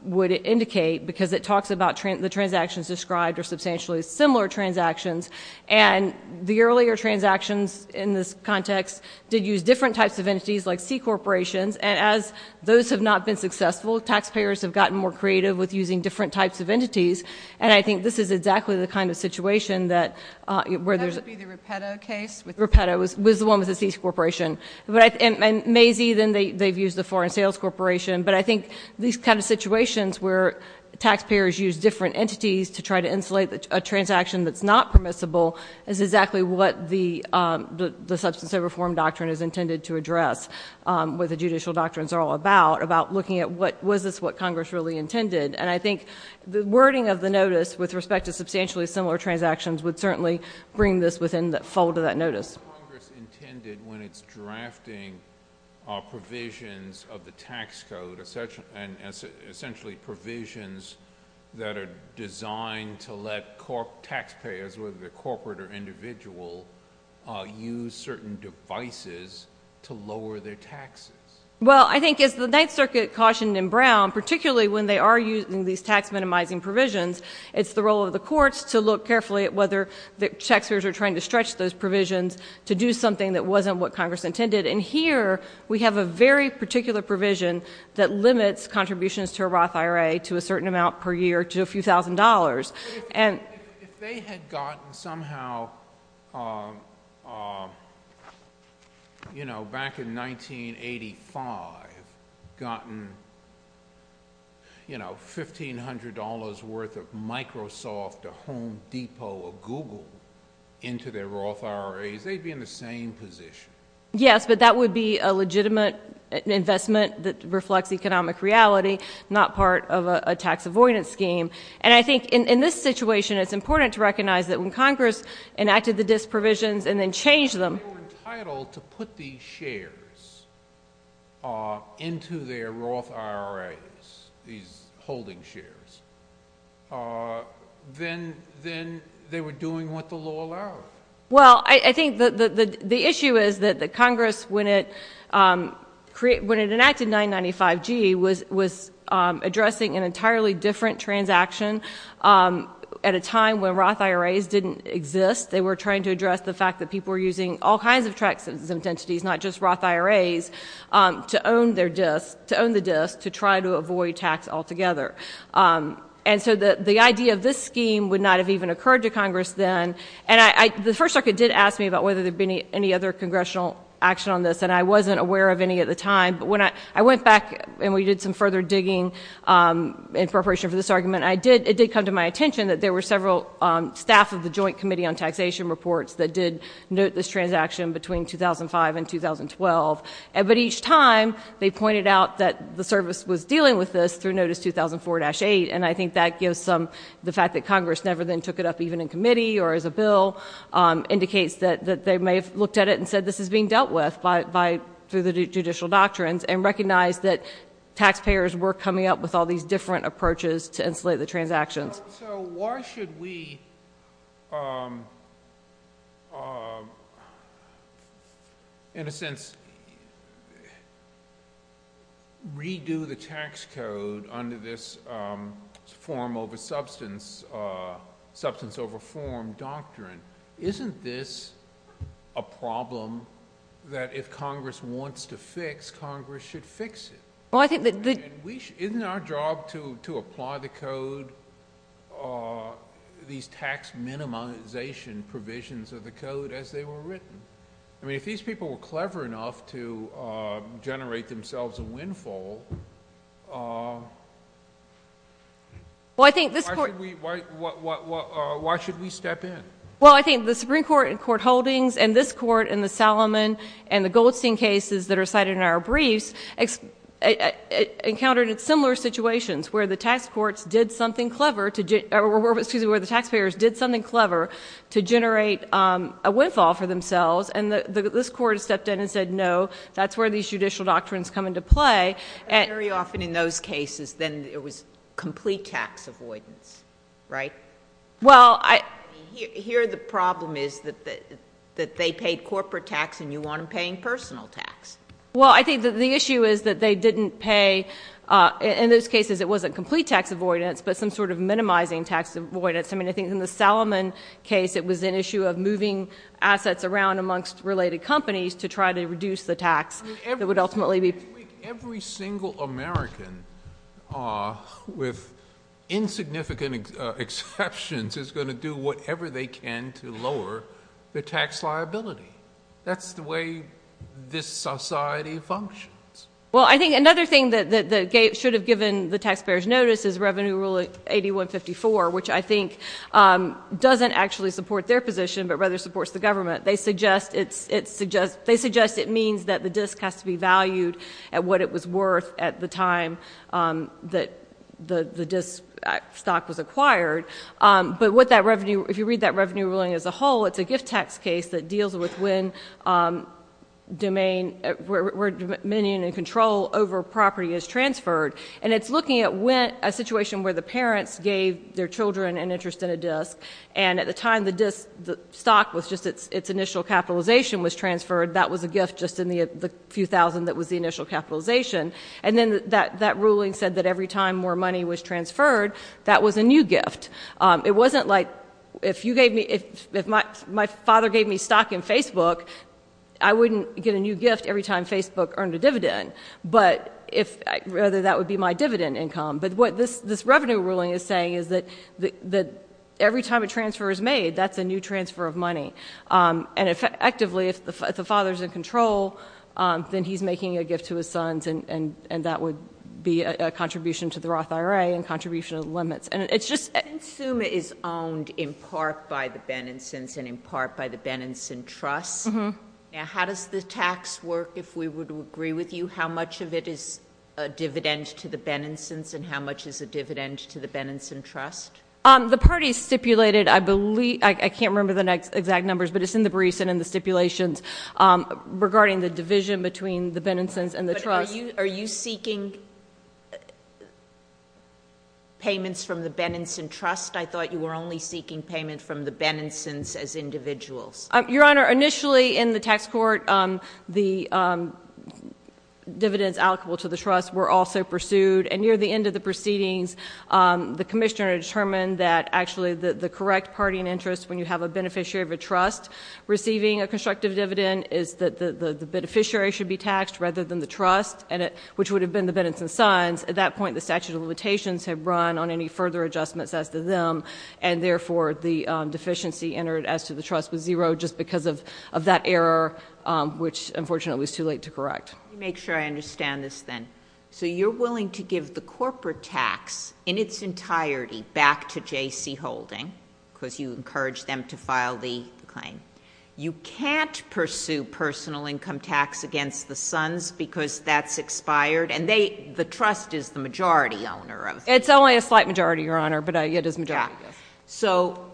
would indicate because it talks about the transactions described are substantially similar transactions. And the earlier transactions in this context did use different types of entities like C-corporations, and as those have not been successful, taxpayers have gotten more creative with using different types of entities. And I think this is exactly the kind of situation that where there's a— That would be the Rapetta case. Rapetta was the one with the C-corporation. And Macy, then they've used the Foreign Sales Corporation. But I think these kind of situations where taxpayers use different entities to try to insulate a transaction that's not permissible is exactly what the substance of reform doctrine is intended to address, what the judicial doctrines are all about, about looking at was this what Congress really intended. And I think the wording of the notice with respect to substantially similar transactions would certainly bring this within the fold of that notice. What is Congress intended when it's drafting provisions of the tax code, essentially provisions that are designed to let taxpayers, whether they're corporate or individual, use certain devices to lower their taxes? Well, I think as the Ninth Circuit cautioned in Brown, particularly when they are using these tax-minimizing provisions, it's the role of the courts to look carefully at whether the taxpayers are trying to stretch those provisions to do something that wasn't what Congress intended. And here we have a very particular provision that limits contributions to a Roth IRA to a certain amount per year to a few thousand dollars. But if they had gotten somehow, you know, back in 1985, gotten, you know, $1,500 worth of Microsoft, or Home Depot, or Google into their Roth IRAs, they'd be in the same position. Yes, but that would be a legitimate investment that reflects economic reality, not part of a tax-avoidance scheme. And I think in this situation it's important to recognize that when Congress enacted the DIS provisions and then changed them— But if they were entitled to put these shares into their Roth IRAs, these holding shares, then they were doing what the law allowed. Well, I think the issue is that Congress, when it enacted 995G, was addressing an entirely different transaction at a time when Roth IRAs didn't exist. They were trying to address the fact that people were using all kinds of tax exempt entities, not just Roth IRAs, to own the DIS to try to avoid tax altogether. And so the idea of this scheme would not have even occurred to Congress then. And the First Circuit did ask me about whether there had been any other congressional action on this, and I wasn't aware of any at the time. But when I went back and we did some further digging in preparation for this argument, it did come to my attention that there were several staff of the Joint Committee on Taxation Reports that did note this transaction between 2005 and 2012. But each time they pointed out that the service was dealing with this through Notice 2004-8, and I think that gives some—the fact that Congress never then took it up even in committee or as a bill indicates that they may have looked at it and said this is being dealt with by—through the judicial doctrines and recognized that taxpayers were coming up with all these different approaches to insulate the transactions. So why should we, in a sense, redo the tax code under this form over substance—substance over form doctrine? Isn't this a problem that if Congress wants to fix, Congress should fix it? Isn't our job to apply the code, these tax minimization provisions of the code as they were written? I mean, if these people were clever enough to generate themselves a windfall, why should we step in? Well, I think the Supreme Court in court holdings and this Court in the Salomon and the Goldstein cases that are cited in our briefs encountered similar situations where the tax courts did something clever to—excuse me, where the taxpayers did something clever to generate a windfall for themselves, and this Court stepped in and said no, that's where these judicial doctrines come into play. And very often in those cases, then it was complete tax avoidance, right? Well, I— Here the problem is that they paid corporate tax and you want them paying personal tax. Well, I think that the issue is that they didn't pay—in those cases it wasn't complete tax avoidance, but some sort of minimizing tax avoidance. I mean, I think in the Salomon case it was an issue of moving assets around amongst related companies to try to reduce the tax that would ultimately be— Every single American, with insignificant exceptions, is going to do whatever they can to lower the tax liability. That's the way this society functions. Well, I think another thing that should have given the taxpayers notice is Revenue Rule 8154, which I think doesn't actually support their position but rather supports the government. They suggest it means that the disk has to be valued at what it was worth at the time that the disk stock was acquired. But if you read that Revenue Ruling as a whole, it's a gift tax case that deals with when dominion and control over property is transferred, and it's looking at a situation where the parents gave their children an interest in a disk, and at the time the disk stock was just—its initial capitalization was transferred. That was a gift just in the few thousand that was the initial capitalization. And then that ruling said that every time more money was transferred, that was a new gift. It wasn't like if you gave me—if my father gave me stock in Facebook, I wouldn't get a new gift every time Facebook earned a dividend, but rather that would be my dividend income. But what this Revenue Ruling is saying is that every time a transfer is made, that's a new transfer of money. And effectively, if the father's in control, then he's making a gift to his sons, and that would be a contribution to the Roth IRA and a contribution to the limits. And it's just— Consumer is owned in part by the Benenson's and in part by the Benenson Trust. Now, how does the tax work, if we would agree with you? How much of it is a dividend to the Benenson's and how much is a dividend to the Benenson Trust? The parties stipulated, I believe—I can't remember the exact numbers, but it's in the briefs and in the stipulations regarding the division between the Benenson's and the Trust. But are you seeking payments from the Benenson Trust? I thought you were only seeking payment from the Benenson's as individuals. Your Honor, initially in the tax court, the dividends allocable to the Trust were also pursued. And near the end of the proceedings, the commissioner determined that actually the correct party in interest when you have a beneficiary of a trust receiving a constructive dividend is that the beneficiary should be taxed rather than the trust, which would have been the Benenson's sons. At that point, the statute of limitations had run on any further adjustments as to them, and therefore the deficiency entered as to the trust was zero just because of that error, which unfortunately was too late to correct. Let me make sure I understand this then. So you're willing to give the corporate tax in its entirety back to J.C. Holding because you encouraged them to file the claim. You can't pursue personal income tax against the sons because that's expired, and the Trust is the majority owner of— It's only a slight majority, Your Honor, but it is a majority. So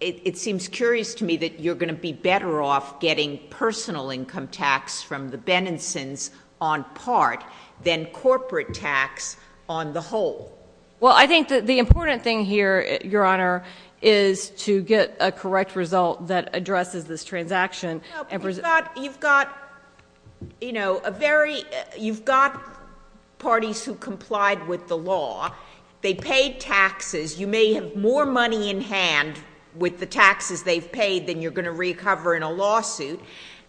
it seems curious to me that you're going to be better off getting personal income tax from the Benenson's on part than corporate tax on the whole. Well, I think that the important thing here, Your Honor, is to get a correct result that addresses this transaction. You've got parties who complied with the law. They paid taxes. You may have more money in hand with the taxes they've paid than you're going to recover in a lawsuit,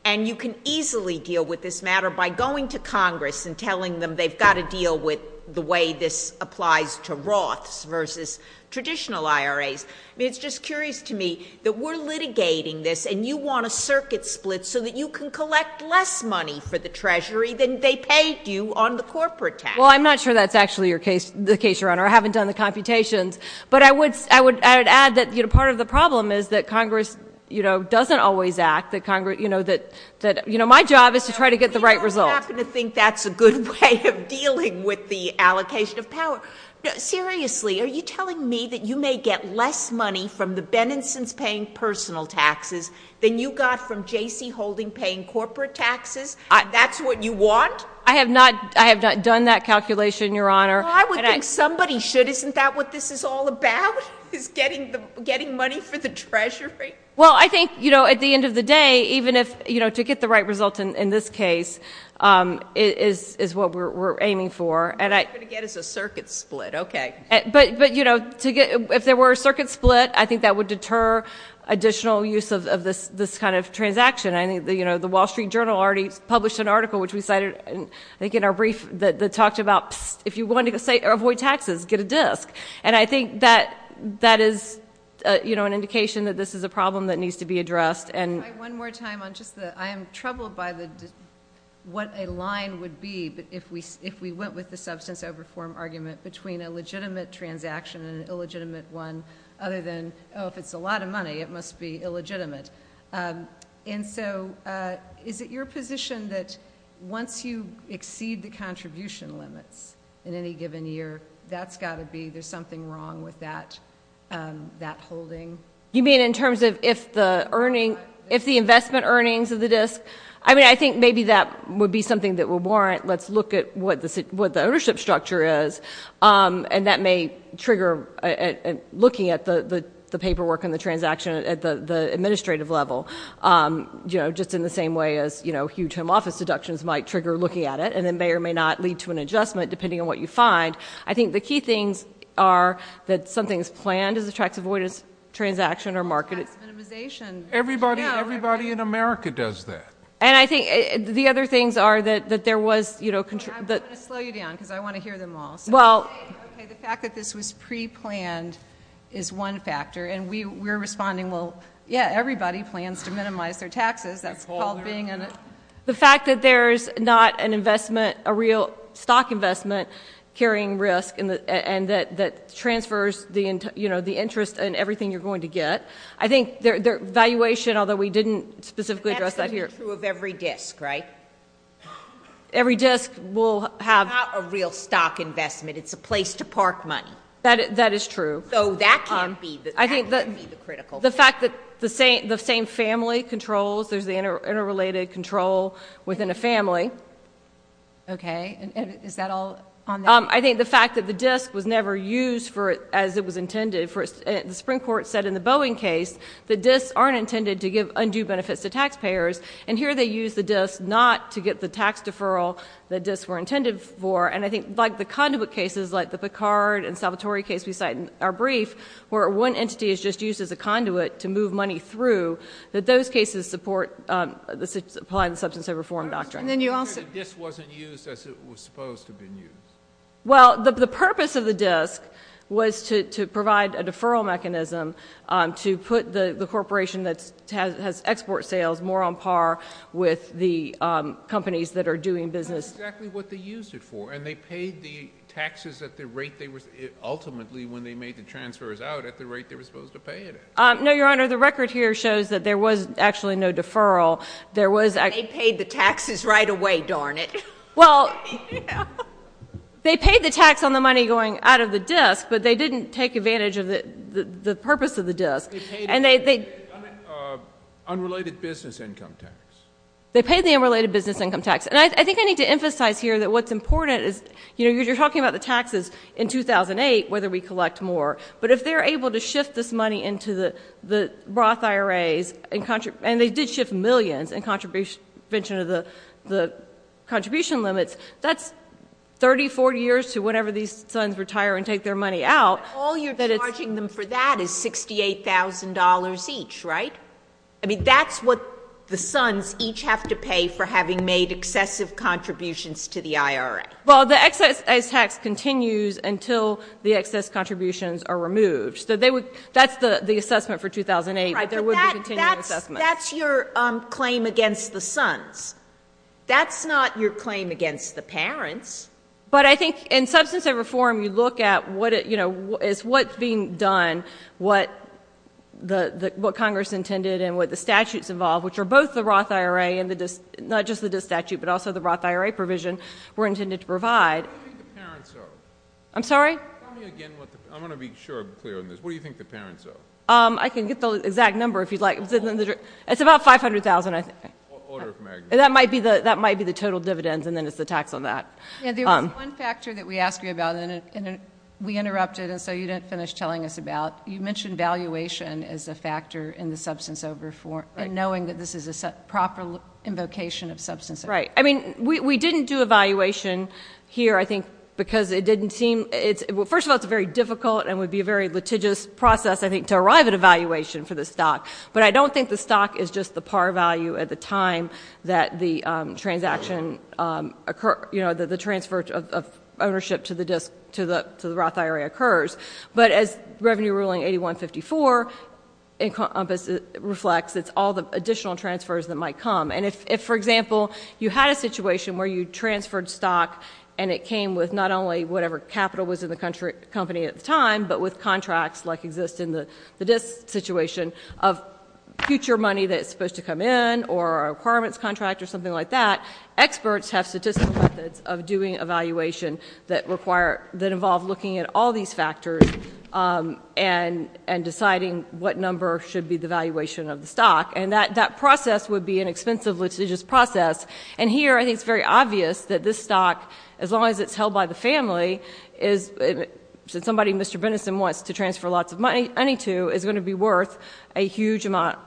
and you can easily deal with this matter by going to Congress and telling them they've got to deal with the way this applies to Roths versus traditional IRAs. I mean, it's just curious to me that we're litigating this, and you want a circuit split so that you can collect less money for the Treasury than they paid you on the corporate tax. Well, I'm not sure that's actually the case, Your Honor. I haven't done the computations, but I would add that part of the problem is that Congress doesn't always act. My job is to try to get the right result. You don't happen to think that's a good way of dealing with the allocation of power. Seriously, are you telling me that you may get less money from the Bennisons paying personal taxes than you got from J.C. Holdings paying corporate taxes? That's what you want? I have not done that calculation, Your Honor. Well, I would think somebody should. Isn't that what this is all about, is getting money for the Treasury? Well, I think, you know, at the end of the day, even if, you know, to get the right result in this case is what we're aiming for. What you're going to get is a circuit split. Okay. But, you know, if there were a circuit split, I think that would deter additional use of this kind of transaction. I think, you know, the Wall Street Journal already published an article, which we cited, I think in our brief, that talked about, psst, if you want to avoid taxes, get a disk. And I think that is, you know, an indication that this is a problem that needs to be addressed. One more time. I am troubled by what a line would be if we went with the substance over form argument between a legitimate transaction and an illegitimate one, other than, oh, if it's a lot of money, it must be illegitimate. And so is it your position that once you exceed the contribution limits in any given year, that's got to be, there's something wrong with that holding? You mean in terms of if the earning, if the investment earnings of the disk? I mean, I think maybe that would be something that would warrant, let's look at what the ownership structure is, and that may trigger looking at the paperwork and the transaction at the administrative level, you know, just in the same way as, you know, huge home office deductions might trigger looking at it, and it may or may not lead to an adjustment, depending on what you find. I think the key things are that something's planned as a tax avoidance transaction or market. Minimization. Everybody in America does that. And I think the other things are that there was, you know, I'm going to slow you down because I want to hear them all. Well. Okay, the fact that this was preplanned is one factor, and we're responding, well, yeah, everybody plans to minimize their taxes. That's called being in a. The fact that there's not an investment, a real stock investment carrying risk and that transfers the interest in everything you're going to get. I think their valuation, although we didn't specifically address that here. That's going to be true of every disk, right? Every disk will have. It's not a real stock investment. It's a place to park money. That is true. So that can't be the critical thing. The fact that the same family controls, there's the interrelated control within a family. Okay. Is that all on that? I think the fact that the disk was never used as it was intended. The Supreme Court said in the Boeing case the disks aren't intended to give undue benefits to taxpayers. And here they use the disks not to get the tax deferral the disks were intended for. And I think like the conduit cases like the Picard and Salvatore case we cite in our brief where one entity is just used as a conduit to move money through, that those cases apply the substance of reform doctrine. And then you also... You said the disk wasn't used as it was supposed to have been used. Well, the purpose of the disk was to provide a deferral mechanism to put the corporation that has export sales more on par with the companies that are doing business. That's exactly what they used it for. And they paid the taxes ultimately when they made the transfers out at the rate they were supposed to pay it at. No, Your Honor. The record here shows that there was actually no deferral. They paid the taxes right away, darn it. Well, they paid the tax on the money going out of the disk, but they didn't take advantage of the purpose of the disk. They paid the unrelated business income tax. They paid the unrelated business income tax. And I think I need to emphasize here that what's important is, you know, you're talking about the taxes in 2008, whether we collect more. But if they're able to shift this money into the Roth IRAs, and they did shift millions in contribution of the contribution limits, that's 30, 40 years to whenever these sons retire and take their money out. All you're charging them for that is $68,000 each, right? I mean, that's what the sons each have to pay for having made excessive contributions to the IRA. Well, the excess tax continues until the excess contributions are removed. So that's the assessment for 2008. Right, but that's your claim against the sons. That's not your claim against the parents. But I think in substance of reform, you look at, you know, is what's being done, what Congress intended and what the statutes involved, which are both the Roth IRA and not just the disk statute, but also the Roth IRA provision were intended to provide. What do you think the parents owe? I'm sorry? Tell me again. I'm going to be short and clear on this. What do you think the parents owe? I can get the exact number if you'd like. It's about $500,000, I think. Order of magnitude. That might be the total dividends, and then it's the tax on that. There was one factor that we asked you about, and we interrupted, and so you didn't finish telling us about. You mentioned valuation as a factor in the substance of reform, and knowing that this is a proper invocation of substance of reform. Right. I mean, we didn't do a valuation here, I think, because it didn't seem – first of all, it's a very difficult and would be a very litigious process, I think, to arrive at a valuation for the stock. But I don't think the stock is just the par value at the time that the transaction – the transfer of ownership to the Roth IRA occurs. But as Revenue Ruling 8154 reflects, it's all the additional transfers that might come. And if, for example, you had a situation where you transferred stock and it came with not only whatever capital was in the company at the time, but with contracts like exist in the disk situation of future money that's supposed to come in or a requirements contract or something like that, experts have statistical methods of doing evaluation that involve looking at all these factors and deciding what number should be the valuation of the stock. And that process would be an expensive litigious process. And here I think it's very obvious that this stock, as long as it's held by the family, since somebody, Mr. Bennison, wants to transfer lots of money to, is going to be worth a huge amount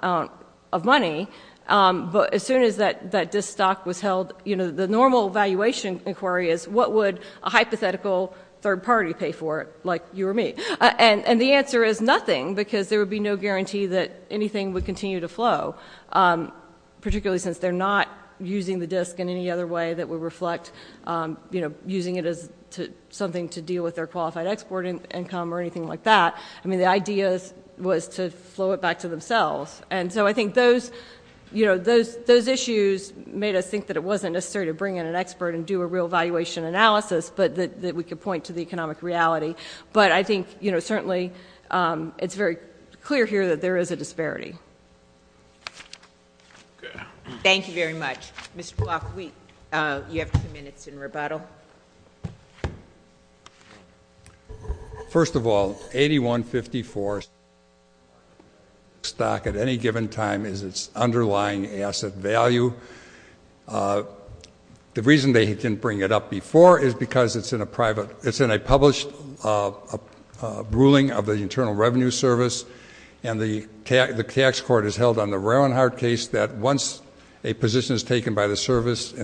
of money. But as soon as that disk stock was held, the normal valuation inquiry is, what would a hypothetical third party pay for it, like you or me? And the answer is nothing, because there would be no guarantee that anything would continue to flow, particularly since they're not using the disk in any other way that would reflect using it as something to deal with their qualified export income or anything like that. I mean, the idea was to flow it back to themselves. And so I think those issues made us think that it wasn't necessary to bring in an expert and do a real valuation analysis, but that we could point to the economic reality. But I think certainly it's very clear here that there is a disparity. Thank you very much. Mr. Block, you have two minutes in rebuttal. First of all, 8154 stock at any given time is its underlying asset value. The reason they didn't bring it up before is because it's in a private, it's in a published ruling of the Internal Revenue Service, and the tax court has held on the Rauenhardt case that once a position is taken by the service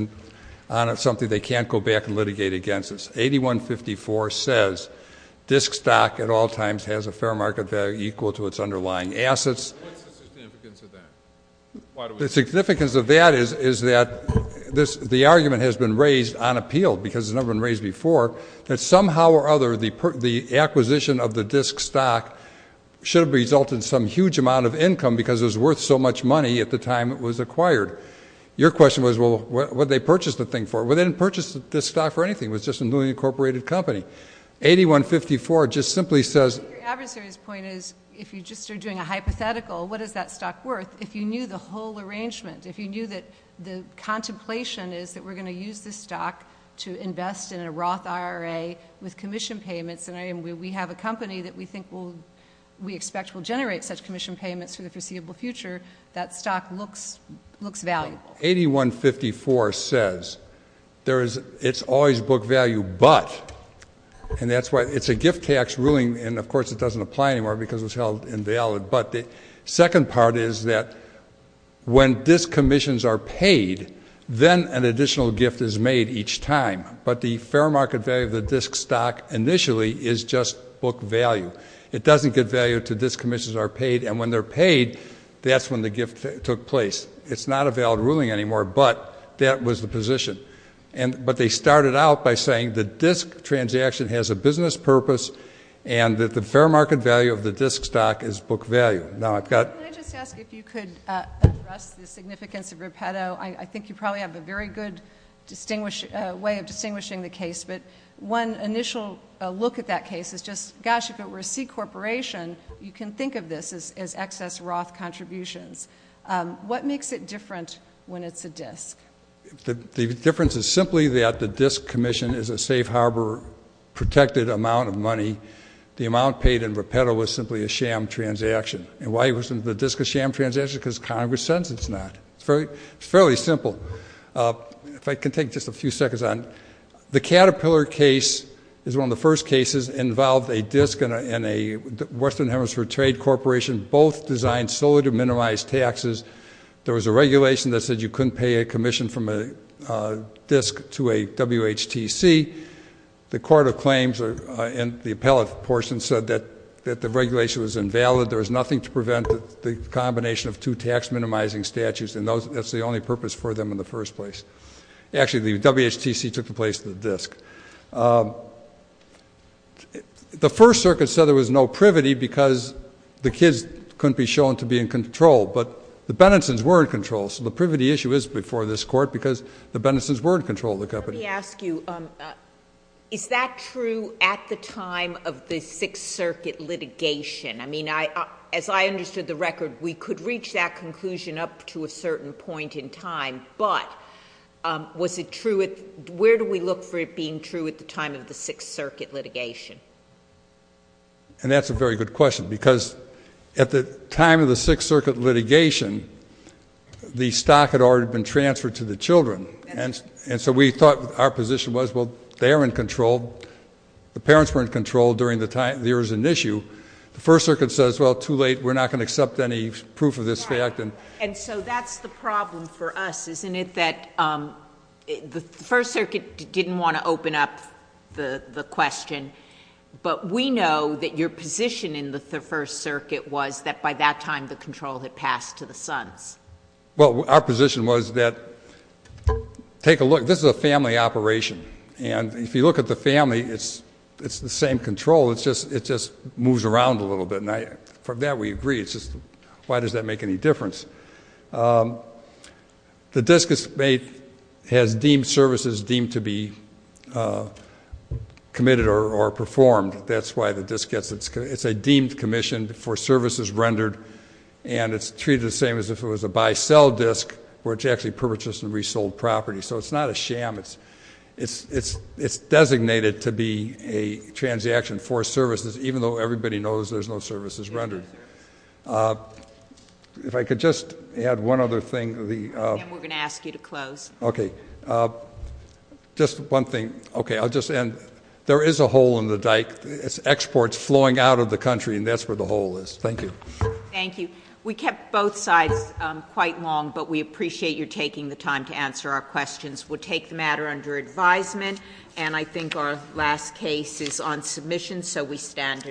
on something they can't go back and litigate against it. 8154 says disk stock at all times has a fair market value equal to its underlying assets. What's the significance of that? The significance of that is that the argument has been raised on appeal, because it's never been raised before, that somehow or other the acquisition of the disk stock should have resulted in some huge amount of income because it was worth so much money at the time it was acquired. Your question was, well, what did they purchase the thing for? Well, they didn't purchase the stock for anything. It was just a newly incorporated company. 8154 just simply says — Your adversary's point is, if you just are doing a hypothetical, what is that stock worth? If you knew the whole arrangement, if you knew that the contemplation is that we're going to use this stock to invest in a Roth IRA with commission payments, and we have a company that we expect will generate such commission payments for the foreseeable future, that stock looks valuable. 8154 says it's always book value, but — and that's why it's a gift tax ruling, and, of course, it doesn't apply anymore because it was held invalid. But the second part is that when disk commissions are paid, then an additional gift is made each time. But the fair market value of the disk stock initially is just book value. It doesn't get value until disk commissions are paid, and when they're paid, that's when the gift took place. It's not a valid ruling anymore, but that was the position. But they started out by saying the disk transaction has a business purpose and that the fair market value of the disk stock is book value. Now, I've got — Can I just ask if you could address the significance of Repeto? I think you probably have a very good way of distinguishing the case, but one initial look at that case is just, gosh, if it were a C corporation, you can think of this as excess Roth contributions. What makes it different when it's a disk? The difference is simply that the disk commission is a safe harbor protected amount of money. The amount paid in Repeto is simply a sham transaction. And why isn't the disk a sham transaction? Because Congress says it's not. It's fairly simple. If I can take just a few seconds on it. The Caterpillar case is one of the first cases involved a disk and a Western Hemisphere Trade Corporation both designed solely to minimize taxes. There was a regulation that said you couldn't pay a commission from a disk to a WHTC. The court of claims in the appellate portion said that the regulation was invalid. There was nothing to prevent the combination of two tax minimizing statutes, and that's the only purpose for them in the first place. Actually, the WHTC took the place of the disk. The First Circuit said there was no privity because the kids couldn't be shown to be in control, but the Benenson's were in control, so the privity issue is before this court because the Benenson's were in control of the company. Let me ask you, is that true at the time of the Sixth Circuit litigation? I mean, as I understood the record, we could reach that conclusion up to a certain point in time, but where do we look for it being true at the time of the Sixth Circuit litigation? And that's a very good question because at the time of the Sixth Circuit litigation, the stock had already been transferred to the children, and so we thought our position was, well, they are in control. The parents were in control during the time there was an issue. The First Circuit says, well, too late. We're not going to accept any proof of this fact. And so that's the problem for us, isn't it, that the First Circuit didn't want to open up the question, but we know that your position in the First Circuit was that by that time the control had passed to the sons. Well, our position was that take a look. This is a family operation, and if you look at the family, it's the same control. It just moves around a little bit, and from that we agree. It's just why does that make any difference? The disk has deemed services deemed to be committed or performed. That's why the disk gets its commission. It's a deemed commission for services rendered, and it's treated the same as if it was a buy-sell disk where it's actually purchased and resold property. So it's not a sham. It's designated to be a transaction for services, even though everybody knows there's no services rendered. If I could just add one other thing. And we're going to ask you to close. Okay. Just one thing. Okay, I'll just end. There is a hole in the dike. It's exports flowing out of the country, and that's where the hole is. Thank you. Thank you. We kept both sides quite long, but we appreciate your taking the time to answer our questions. We'll take the matter under advisement, and I think our last case is on submission, so we stand adjourned.